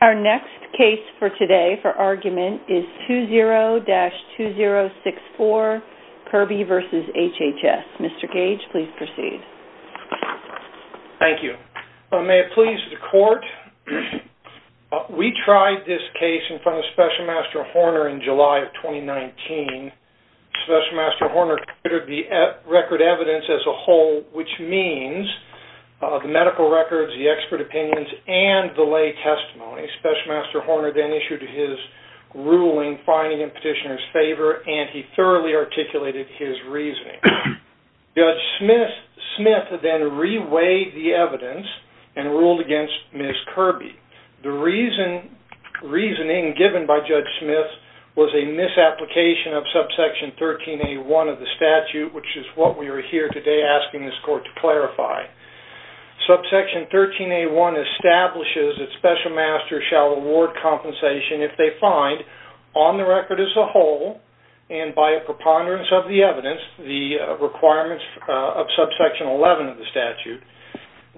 Our next case for today for argument is 20-2064, Kirby v. HHS. Mr. Gage, please proceed. Thank you. May it please the court, we tried this case in front of Special Master Horner in July of 2019. Special Master Horner considered the record evidence as a whole, which means the medical records, the expert opinions, and the lay testimony. Special Master Horner then issued his ruling, finding in petitioner's favor, and he thoroughly articulated his reasoning. Judge Smith then reweighed the evidence and ruled against Ms. Kirby. The reasoning given by Judge Smith was a misapplication of subsection 13A1 of the statute, which is what we are here today asking this court to clarify. Subsection 13A1 establishes that Special Masters shall award compensation if they find, on the record as a whole, and by a preponderance of the evidence, the requirements of subsection 11 of the statute,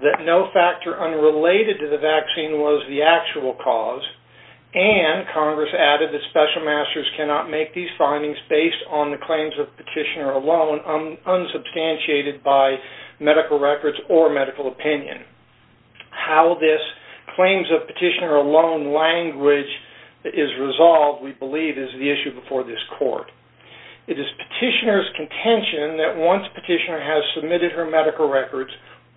that no factor unrelated to the vaccine was the actual cause, and Congress added that Special Masters cannot make these claims substantiated by medical records or medical opinion. How this claims of petitioner alone language is resolved, we believe, is the issue before this court. It is petitioner's contention that once a petitioner has submitted her medical records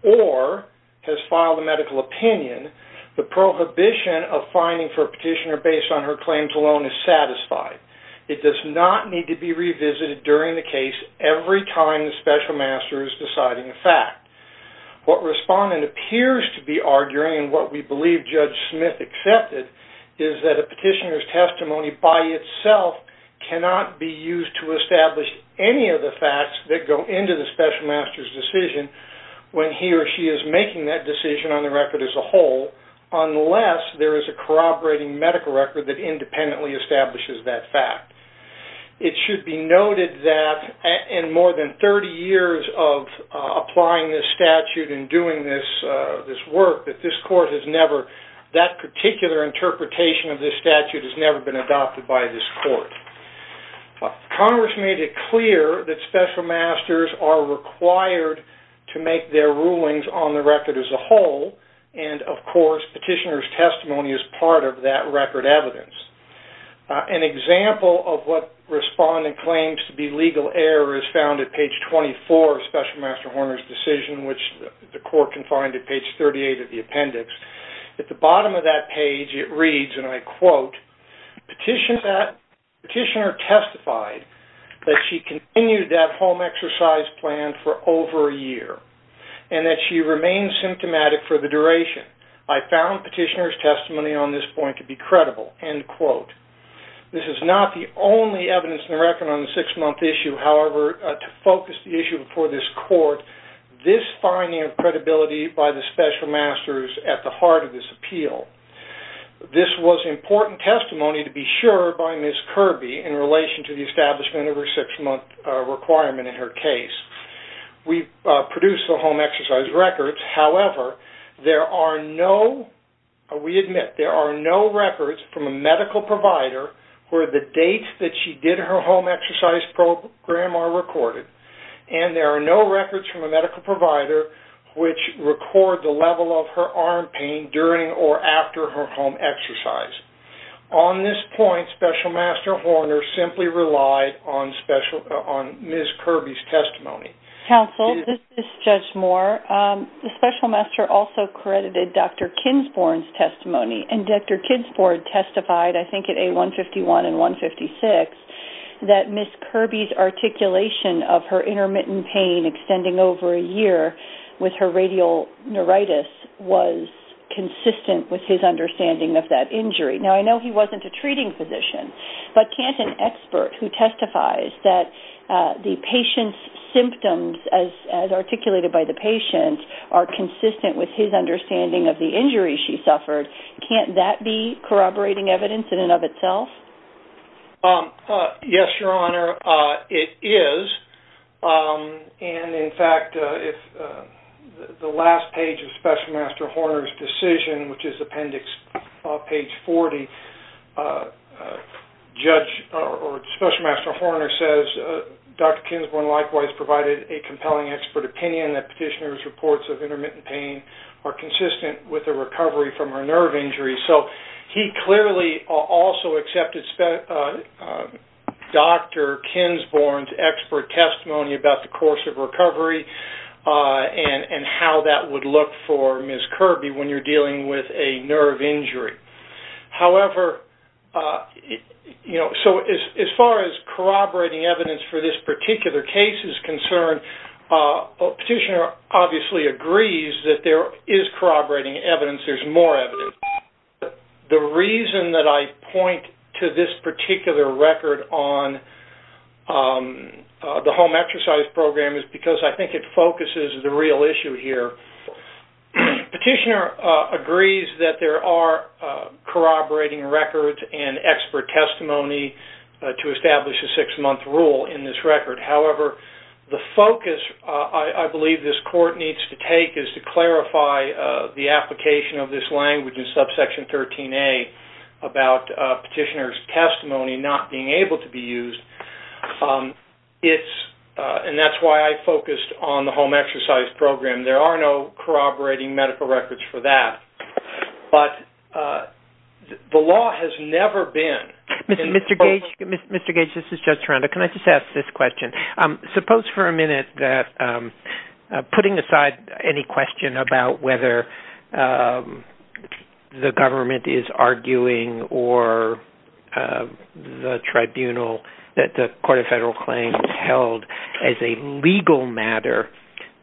or has filed a medical opinion, the prohibition of finding for a petitioner based on her claims alone is satisfied. It does not need to be revisited during the case every time the Special Master is deciding a fact. What Respondent appears to be arguing, and what we believe Judge Smith accepted, is that a petitioner's testimony by itself cannot be used to establish any of the facts that go into the Special Master's decision when he or she is making that decision on the record as a whole, unless there is a corroborating medical record that independently establishes that fact. It should be noted that in more than 30 years of applying this statute and doing this work, that this court has never, that particular interpretation of this statute has never been adopted by this court. Congress made it clear that Special Masters are required to make their rulings on the record as a whole, and of course, petitioner's testimony is part of that record evidence. An example of what Respondent claims to be legal error is found at page 24 of Special Master Horner's decision, which the court can find at page 38 of the appendix. At the bottom of that page, it reads, and I quote, Petitioner testified that she continued that home exercise plan for over a year, and that she remained symptomatic for the duration. I found petitioner's testimony on this point to be credible, end quote. This is not the only evidence in the record on the six-month issue, however, to focus the issue before this court, this finding of credibility by the Special Masters at the heart of this appeal. This was important testimony to be sure by Ms. Kirby in relation to the establishment of her six-month requirement in her case. We produced the home exercise records, however, there are no, we admit, there are no records from a medical provider where the dates that she did her home exercise program are recorded, and there are no records from a medical provider which record the level of her arm pain during or after her home exercise. On this point, Special Master Horner simply relied on Ms. Kirby's testimony. Counsel, this is Judge Moore. The Special Master also credited Dr. Kinsporn's testimony, and Dr. Kinsporn testified, I think at A151 and 156, that Ms. Kirby's articulation of her intermittent pain extending over a year with her radial neuritis was consistent with his understanding of that injury. Now, I know he wasn't a treating physician, but can't an expert who testifies that the patient's symptoms as articulated by the patient are consistent with his understanding of the injury she suffered, can't that be corroborating evidence in and of itself? Yes, Your Honor, it is, and in fact, the last page of Special Master Horner's decision, which is appendix page 40, Special Master Horner says, Dr. Kinsporn likewise provided a compelling expert opinion that petitioner's reports of intermittent pain are consistent with a recovery from her nerve injury. So he clearly also accepted Dr. Kinsporn's expert testimony about the course of recovery and how that would look for Ms. Kirby when you're dealing with a nerve injury. However, you know, so as far as corroborating evidence for this particular case is concerned, petitioner obviously agrees that there is corroborating evidence, there's more evidence. The reason that I point to this particular record on the home exercise program is because I think it focuses the real issue here. Petitioner agrees that there are corroborating records and expert testimony to establish a six-month rule in this record. However, the focus I believe this court needs to take is to clarify the application of this language in subsection 13A about petitioner's testimony not being able to be used. It's, and that's why I focused on the home exercise program. There are no other reasons for that. But the law has never been... Mr. Gage, this is Judge Toronto. Can I just ask this question? Suppose for a minute that putting aside any question about whether the government is arguing or the tribunal that the Court of Federal Claims held as a legal matter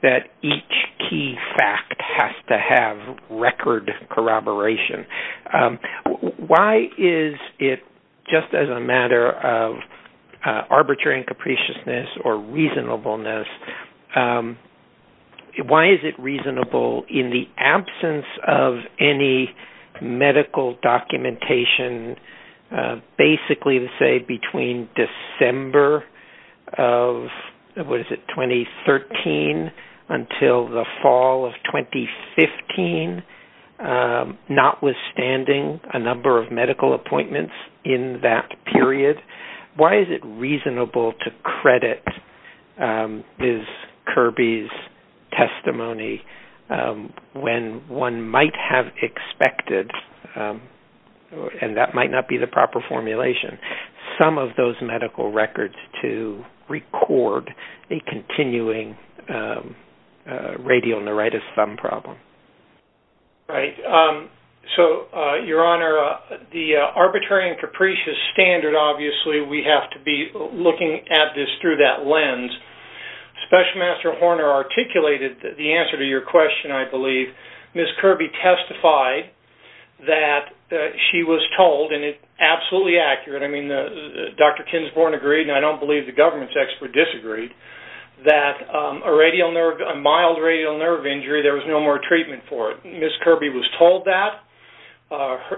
that each key fact has to have record corroboration, why is it just as a matter of arbitrary and capriciousness or reasonableness, why is it reasonable in the absence of any medical documentation basically to say between December of, what is it, 2013 until the fall of 2015, that the government had written, notwithstanding a number of medical appointments in that period, why is it reasonable to credit Ms. Kirby's testimony when one might have expected, and that might not be the proper formulation, some of those medical records to record a continuing radial neuritis thumb problem? Right. So, Your Honor, the arbitrary and capricious standard, obviously, we have to be looking at this through that lens. Special Master Horner articulated the answer to your question, I believe. Ms. Kirby testified that she was told, and it's absolutely accurate. I mean, Dr. Kinsborn agreed, and I don't believe the government's expert disagreed, that a radial nerve injury, there was no more treatment for it. Ms. Kirby was told that.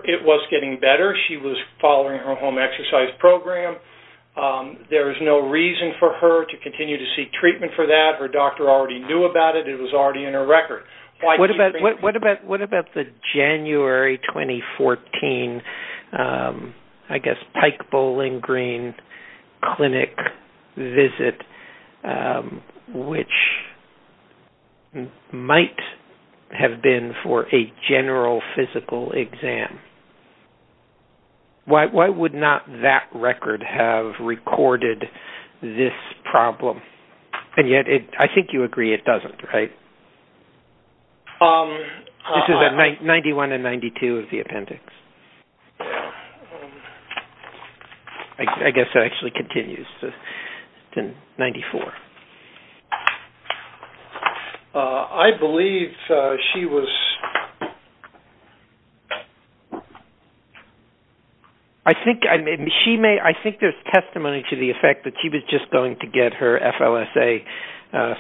It was getting better. She was following her home exercise program. There was no reason for her to continue to seek treatment for that. Her doctor already knew about it. It was already in her record. What about the January 2014, I guess, Pike Bowling Green Clinic visit, which made it might have been for a general physical exam? Why would not that record have recorded this problem? And yet, I think you agree it doesn't, right? This is in 91 and 92 of the appendix. I guess it actually continues. It's in 94. I believe she was... I think there's testimony to the effect that she was just going to get her FLSA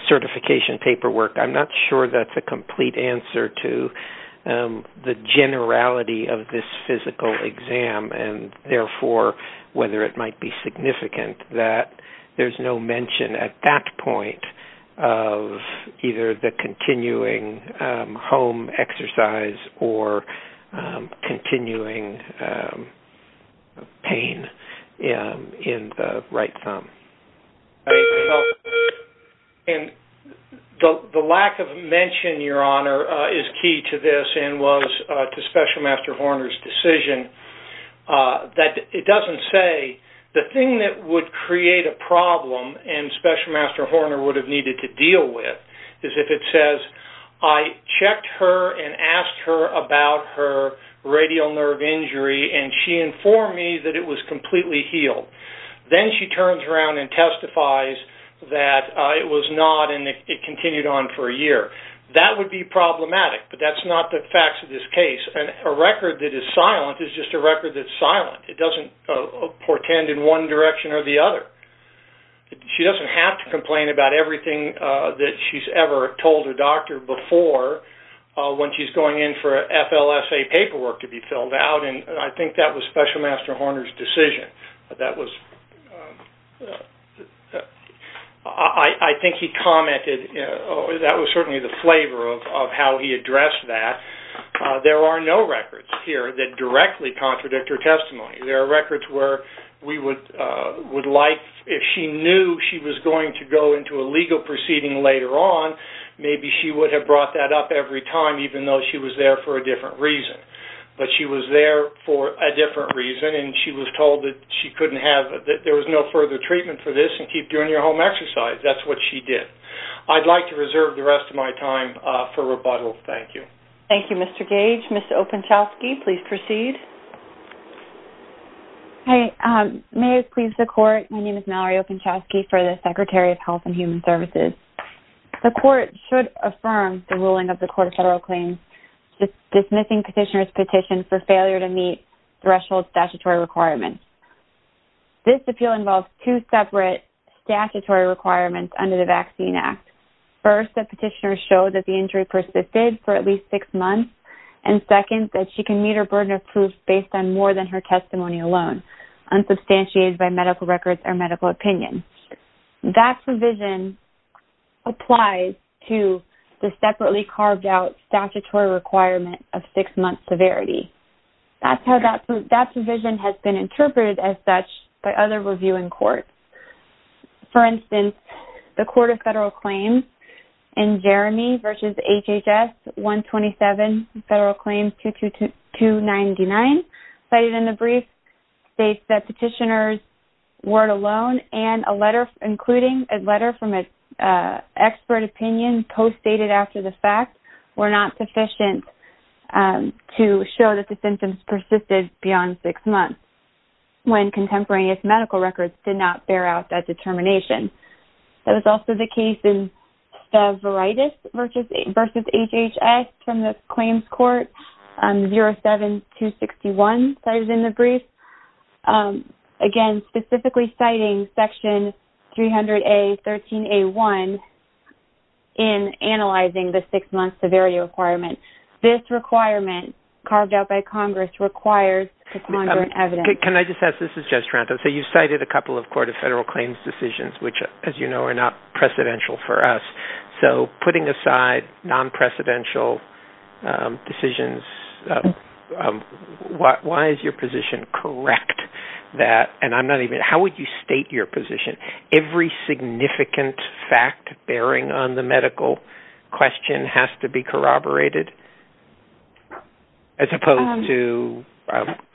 certification paperwork. I'm not sure that's a complete answer to the generality of this physical exam, and therefore, whether it might be significant that there's no mention at that point of either the continuing home exercise or continuing pain in the right thumb. And the lack of mention, Your Honor, is key to this and was to Special Master Horner's decision that it doesn't say. The thing that would create a problem and Special Master Horner would have needed to deal with is if it says, I checked her and asked her about her radial nerve injury, and she informed me that it was completely healed. Then she turns around and testifies that it was not, and it continued on for a year. That would be problematic, but that's not the facts of this case. A record that is silent is just a record that's silent. It doesn't portend in one direction or the other. She doesn't have to complain about everything that she's ever told her doctor before when she's going in for FLSA paperwork to be filled out, and I think that was Special Master Horner's decision. That was, I think he commented, that was certainly the flavor of how he addressed that. There are no records here that directly contradict her testimony. There are records where we would like, if she knew she was going to go into a legal proceeding later on, maybe she would have brought that up every time even though she was there for a different reason. She was there for a different reason, and she was told that she couldn't have, that there was no further treatment for this and keep doing your home exercise. That's what she did. I'd like to reserve the rest of my time for rebuttal. Thank you. Thank you, Mr. Gage. Ms. Openshowski, please proceed. Mayors, please, the court, my name is Mallory Openshowski for the Secretary of Health and Human Services. The court should affirm the ruling of the court of federal claims dismissing the petitioner's petition for failure to meet threshold statutory requirements. This appeal involves two separate statutory requirements under the Vaccine Act. First, the petitioner showed that the injury persisted for at least six months, and second, that she can meet her burden of proof based on more than her testimony alone, unsubstantiated by medical records or medical opinion. That provision applies to the separately carved out statutory requirement of six-month severity. That provision has been interpreted as such by other review in court. For instance, the Court of Federal Claims in Jeremy v. HHS 127, Federal Claims 22299, cited in the brief, states that petitioner's word alone and a letter, including a letter from an expert opinion postdated after the fact, were not sufficient to show that the symptoms persisted beyond six months when contemporaneous medical records did not bear out that determination. That was also the case in Stavritis v. HHS from the Claims Court 07261, cited in the brief, again, specifically citing section 300A.13.1 of the Federal Claims Act, section 13A.1, in analyzing the six-month severity requirement. This requirement, carved out by Congress, requires to conjure an evidence. Can I just ask, this is Judge Taranto. So you've cited a couple of Court of Federal Claims decisions, which, as you know, are not precedential for us. So putting aside non-precedential decisions, why is your position correct that, and I'm not even, how would you state your position, every significant fact bearing on the medical question has to be corroborated, as opposed to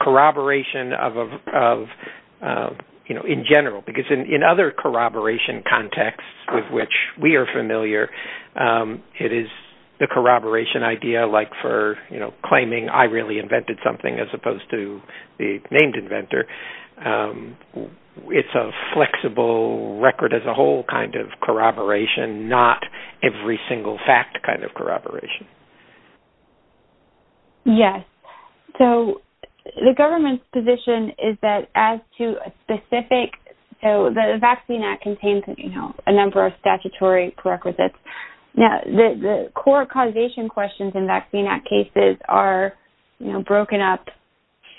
corroboration of, you know, in general? Because in other corroboration contexts with which we are familiar, it is the corroboration idea, like for, you know, it's a flexible record as a whole kind of corroboration, not every single fact kind of corroboration. Yes. So the government's position is that as to a specific, so the Vaccine Act contains, you know, a number of statutory prerequisites. Now, the core causation questions in Vaccine Act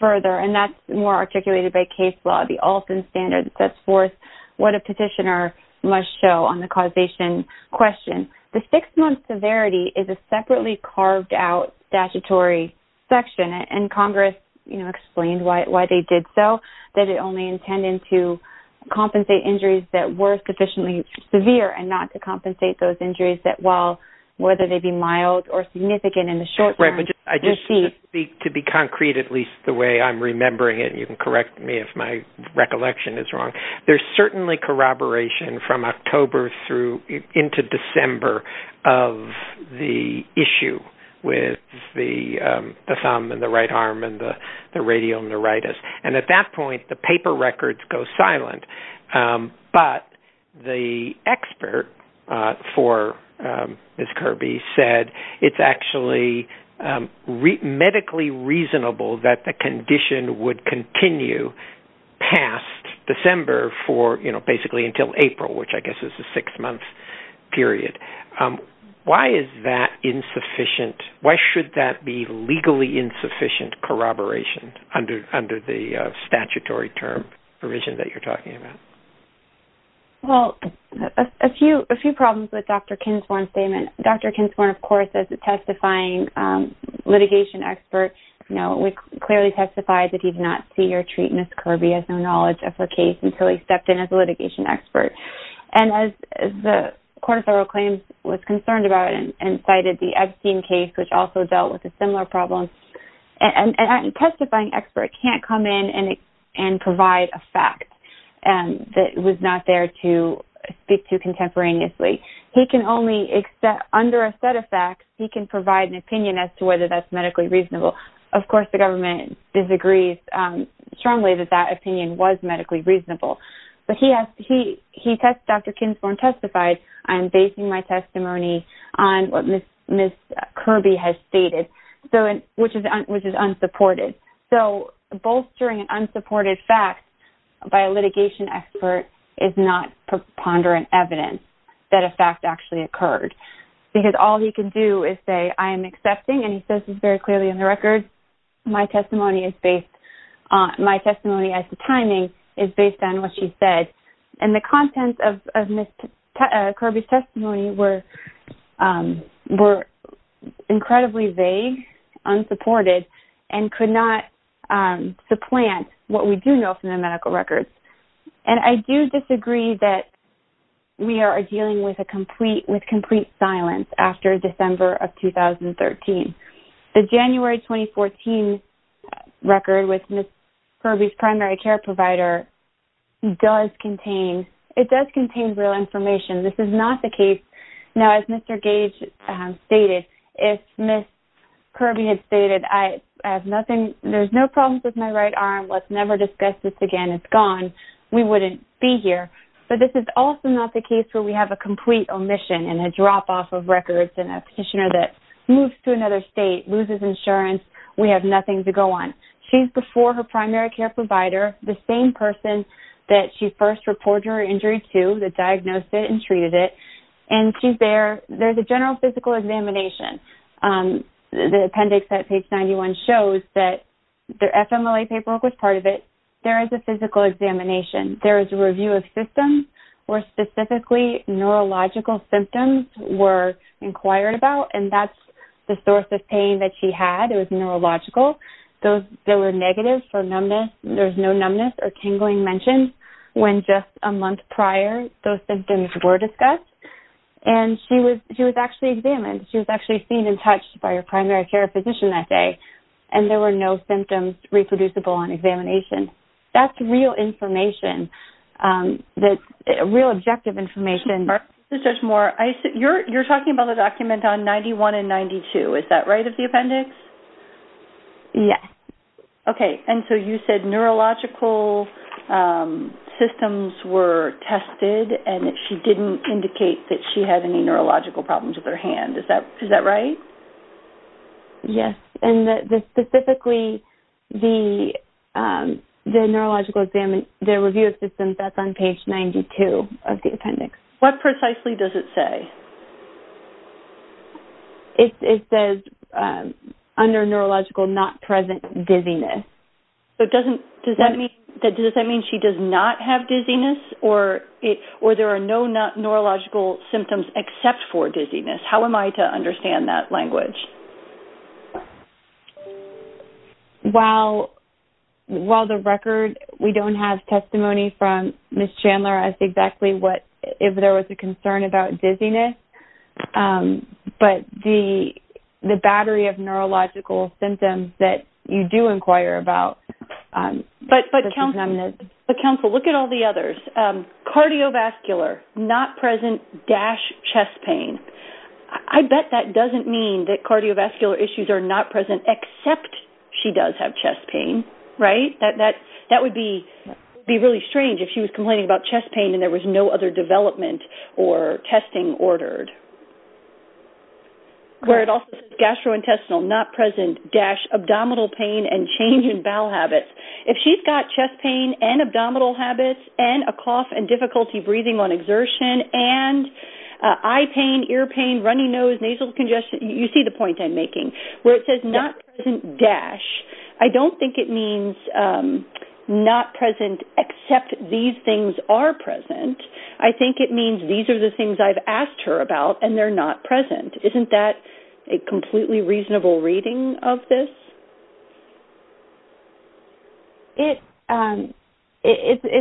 further, and that's more articulated by case law. The Alston Standard sets forth what a petitioner must show on the causation question. The six-month severity is a separately carved-out statutory section, and Congress, you know, explained why they did so, that it only intended to compensate injuries that were sufficiently severe and not to compensate those injuries that, while, whether they be mild or significant in the short term, deceased. I just want to speak to be concrete, at least the way I'm remembering it, and you can correct me if my recollection is wrong. There's certainly corroboration from October through into December of the issue with the thumb and the right arm and the radial neuritis. And at that point, the paper records go silent. But the expert for Ms. Kirby said it's actually, you know, medically reasonable that the condition would continue past December for, you know, basically until April, which I guess is a six-month period. Why is that insufficient? Why should that be legally insufficient corroboration under the statutory term provision that you're talking about? Well, a few problems with Dr. Kinsmore's statement. Dr. Kinsmore, of course, is testifying expert. You know, we clearly testified that he did not see or treat Ms. Kirby as no knowledge of her case until he stepped in as a litigation expert. And as the Court of Federal Claims was concerned about and cited the Epstein case, which also dealt with a similar problem, and a testifying expert can't come in and provide a fact that was not there to speak to contemporaneously. He can only, under a set of facts, he can provide an opinion as to whether that's medically reasonable. Of course, the government disagrees strongly that that opinion was medically reasonable. But he asked, he tested, Dr. Kinsmore testified, I'm basing my testimony on what Ms. Kirby has stated, which is unsupported. So bolstering an unsupported fact by a litigation expert is not preponderant evidence that a fact actually says this very clearly on the record. My testimony is based on, my testimony as to timing is based on what she said. And the contents of Ms. Kirby's testimony were incredibly vague, unsupported, and could not supplant what we do know from the medical records. And I do disagree that we are dealing with a complete, with complete silence after December of 2013. The January 2014 record with Ms. Kirby's primary care provider does contain, it does contain real information. This is not the case. Now, as Mr. Gage stated, if Ms. Kirby had stated, I have nothing, there's no problems with my right arm, let's never discuss this again, it's gone, we wouldn't be here. But this is also not the case where we have a complete omission and a drop-off of records and a petitioner that moves to another state, loses insurance, we have nothing to go on. She's before her primary care provider, the same person that she first reported her injury to, that diagnosed it and treated it, and she's there. There's a general physical examination. The appendix at page 91 shows that the FMLA paperwork was part of it. There is a physical examination. There is a review of systems where specifically neurological symptoms were inquired about, and that's the source of pain that she had. It was neurological. There were negatives for numbness. There's no numbness or tingling mentioned when just a month prior those symptoms were discussed. And she was actually examined. She was actually seen and touched by her primary care physician that day, and there were no symptoms reproducible on examination. That's real information, real objective information for the judge. Judge Moore, you're talking about the document on 91 and 92. Is that right, of the appendix? Yes. Okay. And so you said neurological systems were tested, and she didn't indicate that she had any neurological problems with her hand. Is that right? Yes. And specifically, the neurological review of systems, that's on page 92 of the appendix. What precisely does it say? It says, under neurological, not present, dizziness. Does that mean she does not have dizziness, or there are no neurological symptoms except for dizziness? How am I to understand that language? While the record, we don't have testimony from Ms. Chandler as exactly what, if there was a concern about dizziness, but the battery of neurological symptoms that you do inquire about. But counsel, look at all the others. Cardiovascular, not present, dash chest pain. I bet that doesn't mean that cardiovascular issues are not present except she does have chest pain, right? That would be really strange if she was complaining about chest pain and there was no other development or testing ordered. Where it also says gastrointestinal, not present, dash abdominal pain and change in bowel habits. If she's got chest pain and abdominal habits and a cough and difficulty breathing on exertion and eye pain, ear pain, runny nose, nasal congestion, you see the point I'm making. Where it says not present, dash. I don't think it means not present except these things are present. I think it means these are the things I've asked her about and they're not present. Isn't that a completely reasonable reading of this? It's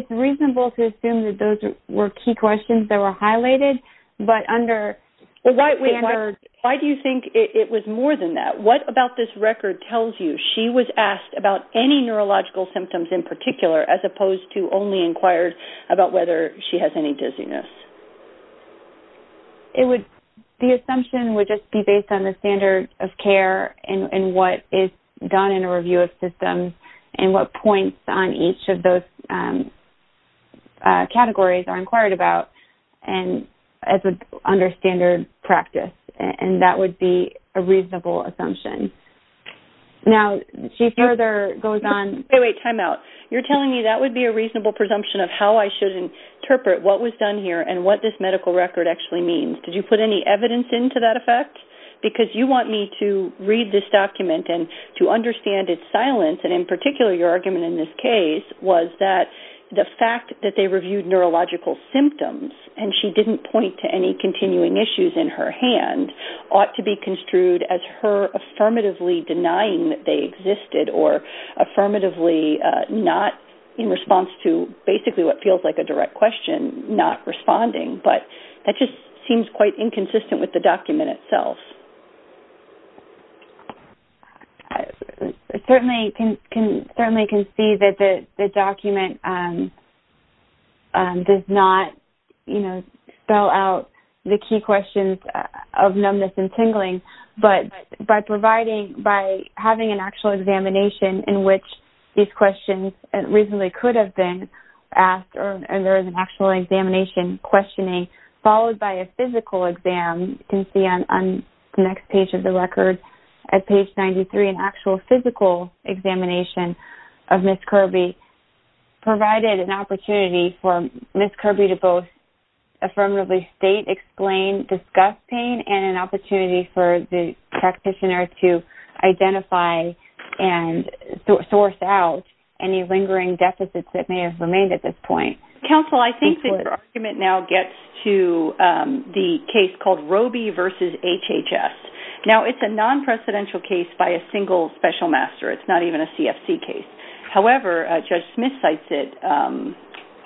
reasonable to assume that those were key questions that were highlighted, but under standard... Why do you think it was more than that? What about this record tells you she was asked about any neurological symptoms in particular as opposed to only inquired about whether she has any dizziness? The assumption would just be based on the standard of care and what is done in a review of systems and what points on each of those categories are inquired about as under standard practice. That would be a reasonable assumption. Now, she further goes on... Wait, wait, time out. You're telling me that would be a reasonable presumption of how I should interpret what was done here and what this medical record actually means? Did you put any evidence into that effect? Because you want me to read this document and to understand its silence and in particular your argument in this case was that the fact that they reviewed neurological symptoms and she didn't point to any continuing issues in her hand ought to be construed as her affirmatively denying that they existed or affirmatively not in the sense that it feels like a direct question not responding. But that just seems quite inconsistent with the document itself. I certainly can see that the document does not spell out the key questions of numbness and tingling, but by having an actual examination in which these questions reasonably could have been asked or there is an actual examination questioning followed by a physical exam, you can see on the next page of the record at page 93, an actual physical examination of Ms. Kirby provided an opportunity for Ms. Kirby to both affirmatively state, explain, discuss pain and an opportunity for the practitioner to identify and source out any lingering deficits that may have remained at this point. Counsel, I think that your argument now gets to the case called Robey v. HHS. Now, it's a non-precedential case by a single special master. It's not even a CFC case. However, Judge Smith cites it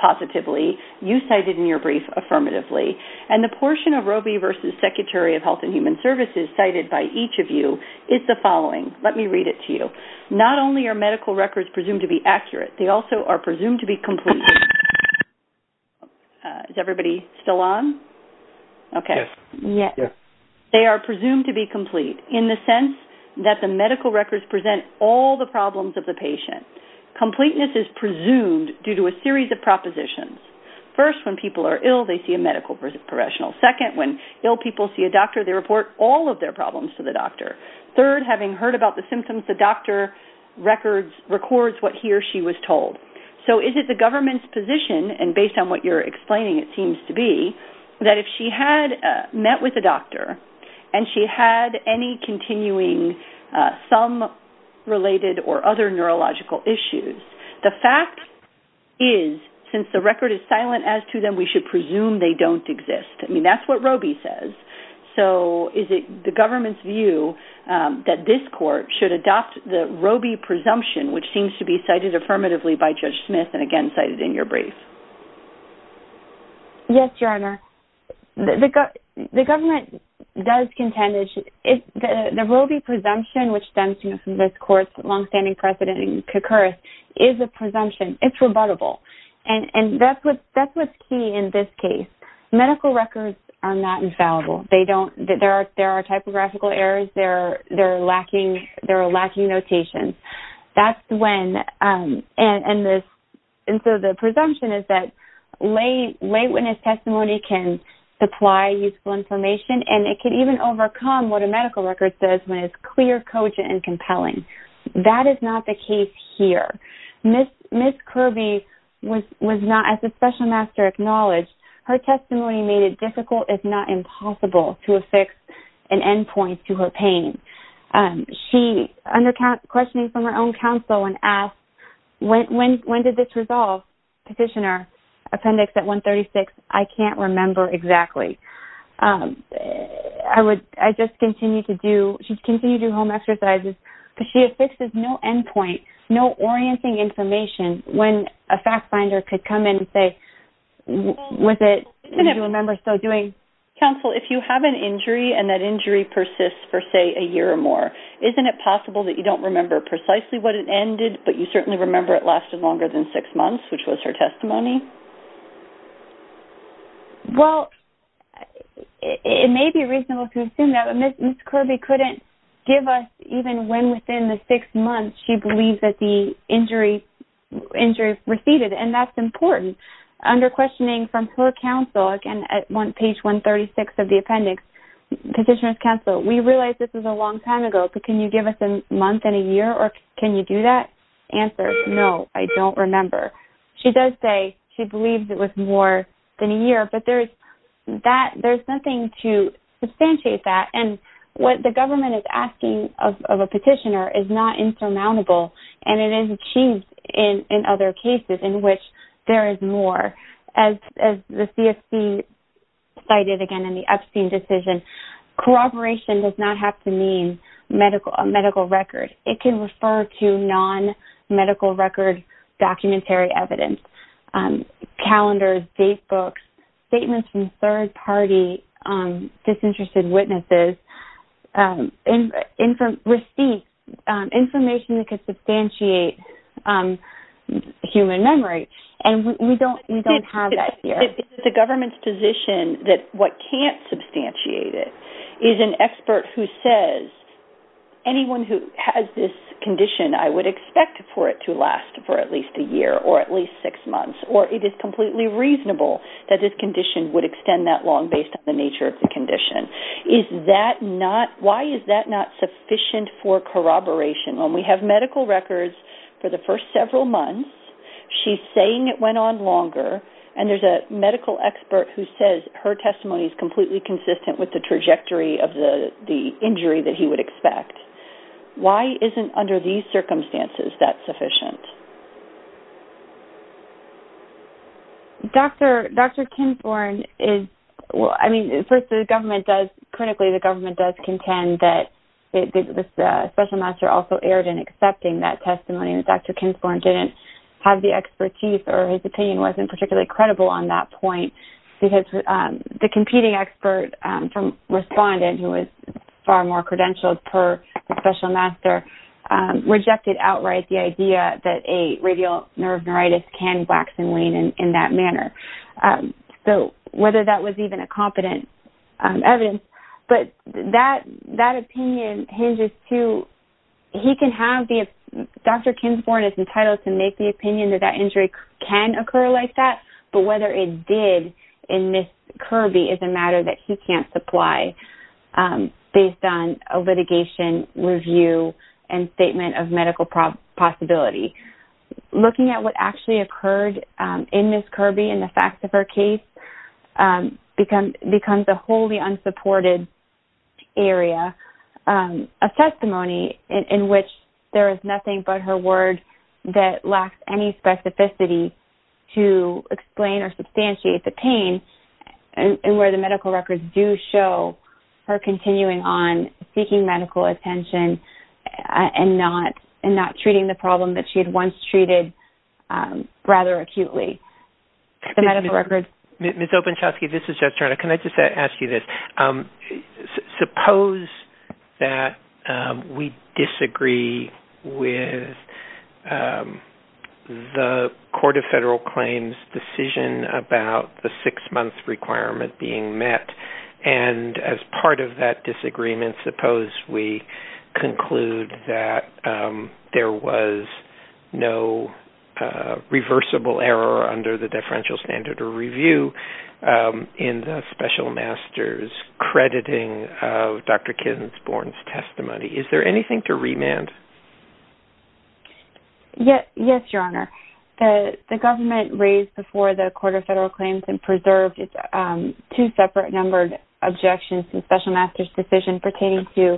positively. You cited in your brief affirmatively. And the portion of Robey v. Secretary of Health and Human Services cited by each of you is the following. Let me read it to you. Not only are medical records presumed to be accurate, they also are presumed to be complete. Is everybody still on? Okay. Yes. They are presumed to be complete in the sense that the medical records present all the problems of the patient. Completeness is presumed due to a series of propositions. First, when people are ill, they see a medical professional. Second, when ill people see a doctor, they report all of their problems to the doctor. Third, having heard about the symptoms, the doctor records what he or she was told. So is it the government's position, and based on what you're explaining it seems to be, that if she had met with a doctor and she had any continuing thumb-related or other neurological issues, the fact is, since the record is silent as to them, we should presume they don't exist. I mean, that's what Robey says. So is it the government's view that this court should adopt the Robey presumption, which seems to be cited affirmatively by Judge Smith and again cited in your brief? Yes, Your Honor. The government does contend that the Robey presumption, which stems from this court's long-standing precedent in this case, medical records are not infallible. There are typographical errors. There are lacking notations. And so the presumption is that lay witness testimony can supply useful information, and it can even overcome what a medical record says when it's clear, cogent, and compelling. That is not the case here. Ms. Kirby was not, as the Special Master acknowledged, her testimony made it difficult, if not impossible, to affix an end point to her pain. She, under questioning from her own counsel and asked, when did this resolve, petitioner, appendix at 136, I can't remember exactly. I would, I just continue to do, she refuses, because she affixes no end point, no orienting information when a fact finder could come in and say, was it, do you remember still doing? Counsel, if you have an injury and that injury persists for, say, a year or more, isn't it possible that you don't remember precisely what it ended, but you certainly remember it lasted longer than six months, which was her testimony? Well, it may be reasonable to assume that, but Ms. Kirby does not know when within the six months she believes that the injury, injury receded, and that's important. Under questioning from her counsel, again, at page 136 of the appendix, petitioner's counsel, we realize this is a long time ago, but can you give us a month and a year, or can you do that? Answer, no, I don't remember. She does say she believes it was more than a year, but there's that, there's nothing to substantiate that, and what the government is asking of a petitioner is not insurmountable, and it is achieved in other cases in which there is more. As the CFC cited again in the Epstein decision, corroboration does not have to mean a medical record. It can refer to non-medical record documentary evidence, calendars, date books, statements from third party disinterested witnesses, receipts, information that could substantiate human memory, and we don't have that here. It's the government's position that what can't substantiate it is an expert who says, anyone who has this condition, I would expect for it to last for at least a year, or at least six months, or it is completely reasonable that this condition would extend that long based on the nature of the condition. Is that not, why is that not sufficient for corroboration? When we have medical records for the first several months, she's saying it went on longer, and there's a medical expert who says her testimony is completely consistent with the trajectory of the injury that he would expect. Why isn't under these Well, I mean, first the government does, critically the government does contend that the special master also erred in accepting that testimony, that Dr. Kinsmore didn't have the expertise, or his opinion wasn't particularly credible on that point, because the competing expert from Respondent, who was far more credentialed per the special master, rejected outright the idea that a radial nerve neuritis can wax and wane in that manner. So whether that was even a competent evidence, but that opinion hinges to, he can have, Dr. Kinsmore is entitled to make the opinion that that injury can occur like that, but whether it did in Ms. Kirby is a matter that he can't supply based on a litigation review and statement of medical possibility. Looking at what actually occurred in Ms. Kirby and the facts of her case becomes a wholly unsupported area. A testimony in which there is nothing but her word that lacks any specificity to explain or substantiate the pain, and where the medical records do show her continuing on seeking medical attention and not treating the problem that she had once treated rather acutely. The medical records... Ms. Openshawski, this is Judge Turner. Can I just ask you this? Suppose that we disagree with the Court of Federal Claims' decision about the six-month requirement being met, and as part of that disagreement, suppose we conclude that there was no reversible error under the differential standard or review in the special master's crediting of Dr. Kinsmore's case? Yes, Your Honor. The government raised before the Court of Federal Claims and preserved its two separate numbered objections to the special master's decision pertaining to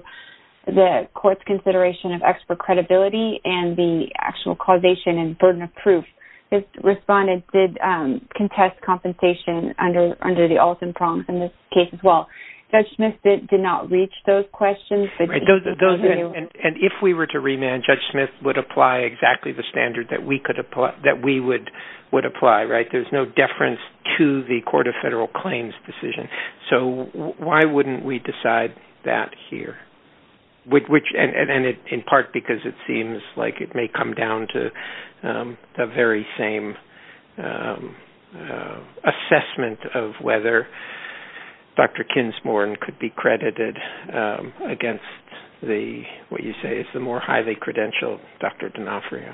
the court's consideration of expert credibility and the actual causation and burden of proof. This respondent did contest compensation under the Alston prompts in this case as well. Judge Smith did not reach those questions. And if we were to remand, Judge Smith would apply exactly the standard that we would apply, right? There's no deference to the Court of Federal Claims' decision. So why wouldn't we decide that here? And in part because it seems like it may come down to the very same assessment of whether Dr. Kinsmore could be credited against what you say is the more highly credentialed Dr. D'Onofrio.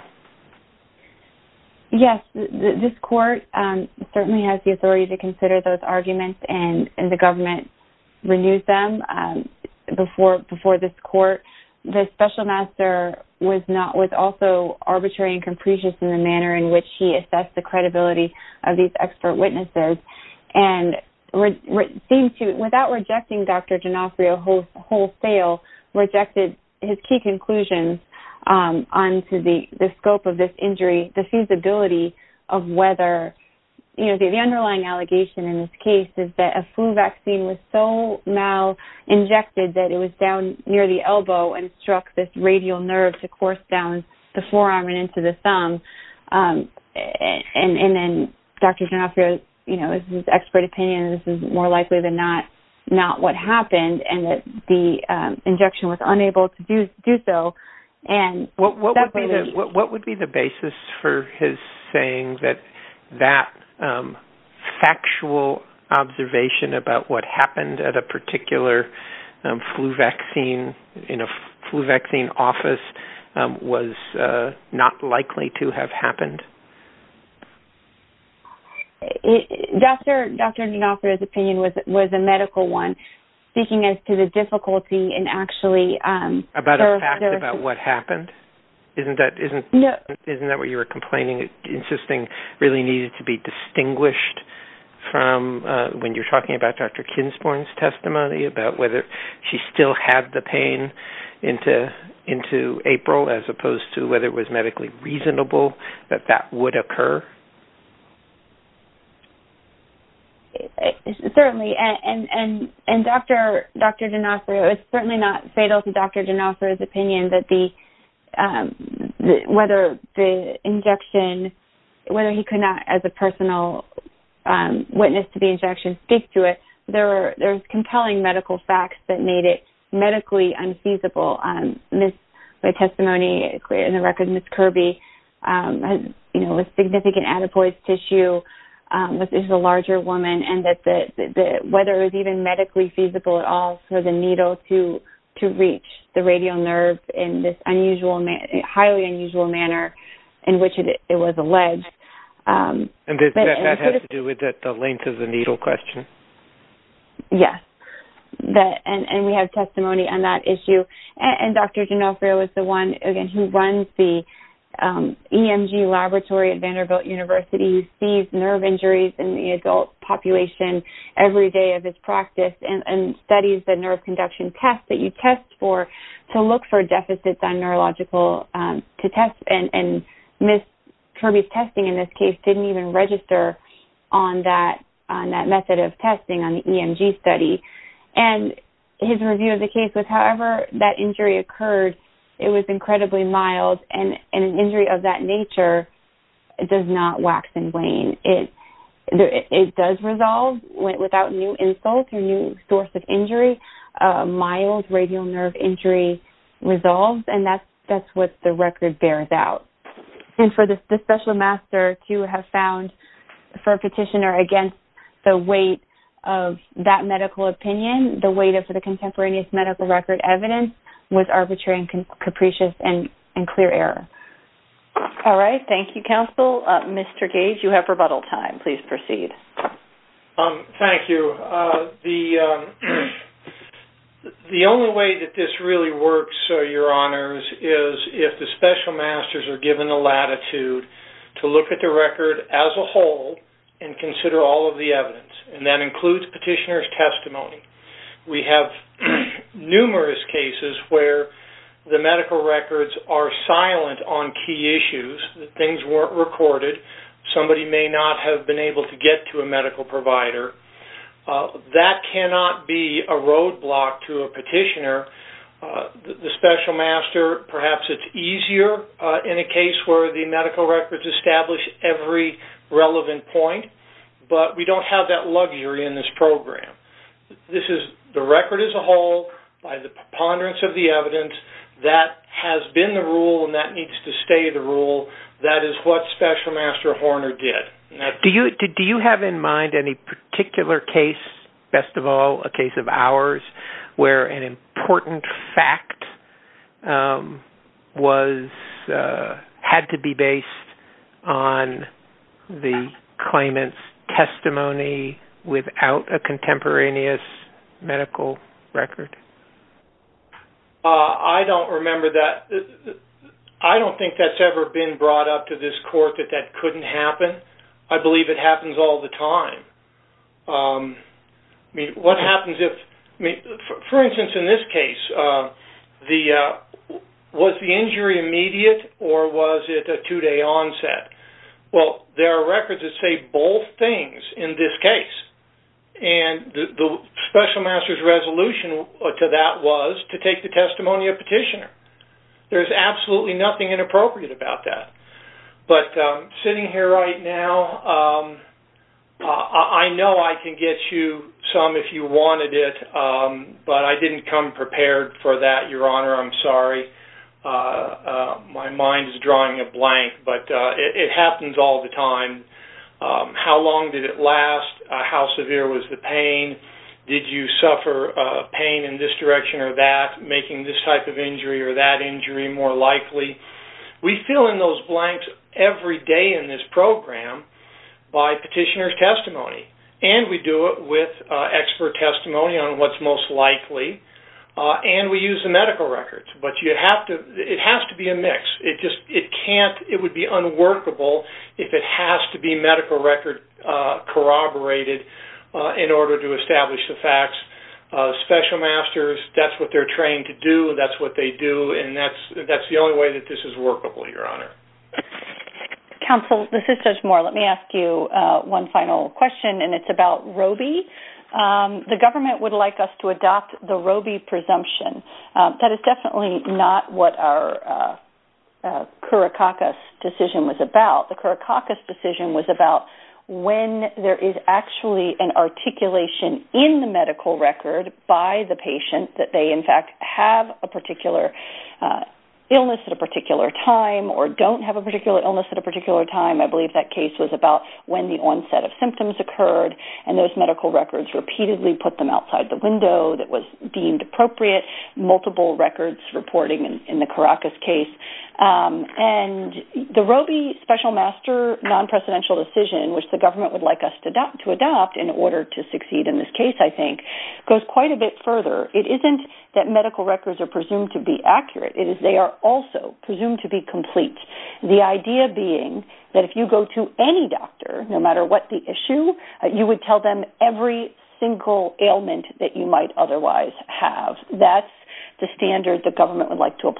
Yes. This court certainly has the authority to consider those arguments, and the government renewed them before this court. The special master was also arbitrary and capricious in the manner in which he assessed the credibility of these expert witnesses. And without rejecting Dr. D'Onofrio wholesale, rejected his key conclusions onto the scope of this injury, the feasibility of whether, you know, the underlying allegation in this case is that a flu vaccine was so mal-injected that it was down near the elbow and struck this radial nerve to course down the forearm and into the thumb. And then Dr. D'Onofrio, you know, his expert opinion, this is more likely than not what happened, and that the injection was unable to do so. What would be the basis for his saying that that factual observation about what happened at a particular flu vaccine in a flu vaccine office was not likely to have happened? Dr. D'Onofrio's opinion was a medical one, speaking as to the difficulty in actually About a fact about what happened? Isn't that what you were complaining, insisting really needed to be distinguished from when you're talking about Dr. Kinsporn's testimony about whether she still had the pain into April as opposed to whether it was medically reasonable that that would occur? Certainly. And Dr. D'Onofrio, it's certainly not fatal to Dr. D'Onofrio's opinion that whether the injection, whether he could not, as a personal witness to the injection, speak to it. There's compelling medical facts that made it medically unfeasible. The testimony in the record, Ms. Kirby, you know, with significant adipose tissue, this is a larger woman, and that whether it was even medically feasible at all for the needle to reach the radial nerve in this highly unusual manner in which it was alleged. And that has to do with the length of the needle question? Yes. And we have testimony on that issue. And Dr. D'Onofrio is the one, again, who runs the EMG laboratory at Vanderbilt University, sees nerve injuries in the adult population every day of his practice, and studies the nerve conduction tests that you test for to look for deficits on neurological tests. And Ms. Kirby's testing in this case didn't even register on that method of testing, on the EMG study. And his review of the case was however that injury occurred, it was incredibly mild, and an injury of that nature does not wax and wane. It does resolve without new insults or new source of injury. Mild radial nerve injury resolves, and that's what the record bears out. And for the special master to have found for a petitioner against the weight of that medical opinion, the weight of the contemporaneous medical record evidence was arbitrary and capricious and clear error. All right. Thank you, Counsel. Mr. Gage, you have rebuttal time. Please proceed. Thank you. The only way that this really works, Your Honors, is if the special masters are given the latitude to look at the record as a whole and consider all of the evidence. And that includes petitioner's testimony. We have numerous cases where the medical records are silent on key issues. Things weren't recorded. Somebody may not have been able to get to a medical provider. That cannot be a roadblock to a petitioner. The special master, perhaps it's easier in a case where the medical records establish every relevant point, but we don't have that luxury in this program. This is the record as a whole by the preponderance of the evidence. That has been the rule and that needs to stay the rule. That is what special master Horner did. Do you have in mind any particular case, best where an important fact had to be based on the claimant's testimony without a contemporaneous medical record? I don't remember that. I don't think that's ever been brought up to this instance in this case, was the injury immediate or was it a two-day onset? Well, there are records that say both things in this case. And the special master's resolution to that was to take the testimony of petitioner. There's absolutely nothing inappropriate about that. Sitting here right now, I know I can get you some if you wanted it, but I didn't come prepared for that, Your Honor. I'm sorry. My mind is drawing a blank, but it happens all the time. How long did it last? How severe was the pain? Did you suffer pain in this direction or that, making this type of injury or that injury more likely? We fill in those blanks every day in this program by petitioner's testimony. And we do it with expert testimony on what's most likely. And we use the medical records. But it has to be a mix. It would be unworkable if it has to be medical record corroborated in order to establish the facts. Special masters, that's what they're trained to do. That's what they do. And that's the only way that this is workable, Your Honor. Counsel, this is Judge Moore. Let me ask you one final question. And it's about Roe v. The government would like us to adopt the Roe v. presumption. That is definitely not what our Curricoccus decision was about. The Curricoccus decision was about when there is actually an articulation in the medical record by the patient that they in fact have a particular illness at a particular time or don't have a particular illness at a particular time. I believe that case was about when the onset of symptoms occurred. And those medical records repeatedly put them outside the window that was deemed appropriate, multiple records reporting in the Curricoccus case. And the Roe v. Special Master non-presidential decision, which the government would like us to adopt in order to succeed in this case, I think, goes quite a bit further. It isn't that medical records are presumed to be accurate. It is they are also presumed to be complete. The idea being that if you go to any doctor, no matter what the issue, you would tell them every single ailment that you might otherwise have. That's the standard the government would like to adopt,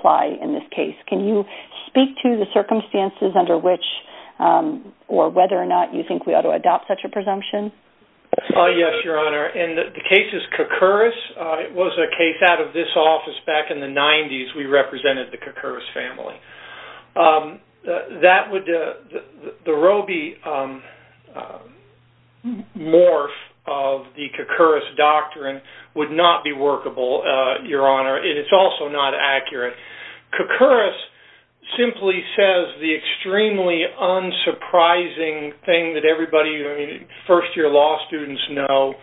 or whether or not you think we ought to adopt such a presumption. Yes, Your Honor. And the case is Koukouris. It was a case out of this office back in the 90s. We represented the Koukouris family. The Roe v. morph of the Koukouris doctrine would not be workable, Your Honor. And it's also not accurate. Koukouris simply says the extremely unsurprising thing that everybody, first-year law students know,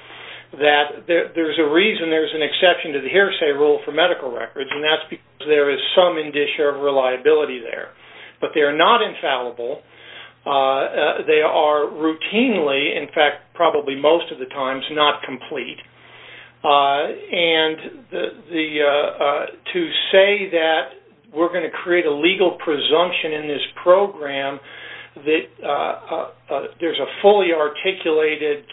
that there's a reason there's an exception to the hearsay rule for medical records. And that's because there is some indicia of reliability there. But they are not infallible. They are routinely, in fact probably most of the times, not complete. And to say that we're going to create a legal presumption in this program that there's a fully articulated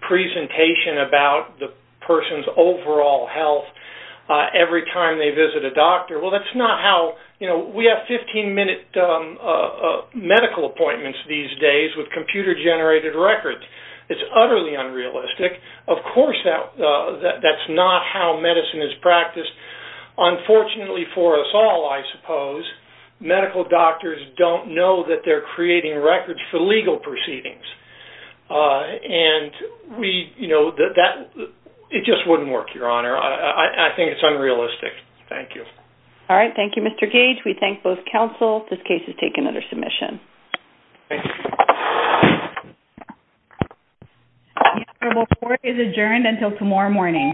presentation about the person's overall health every time they visit a doctor, well, that's not how, you know, we have 15-minute medical appointments these days with computer-generated records. It's utterly unrealistic. Of course, that's not how medicine is practiced. Unfortunately for us all, I suppose, medical doctors don't know that they're creating records for legal proceedings. And we, you know, it just wouldn't work, Your Honor. I think it's unrealistic. Thank you. All right. Thank you, Mr. Gage. We thank both counsel. This case is taken under submission. Thank you. The honorable court is adjourned until tomorrow morning.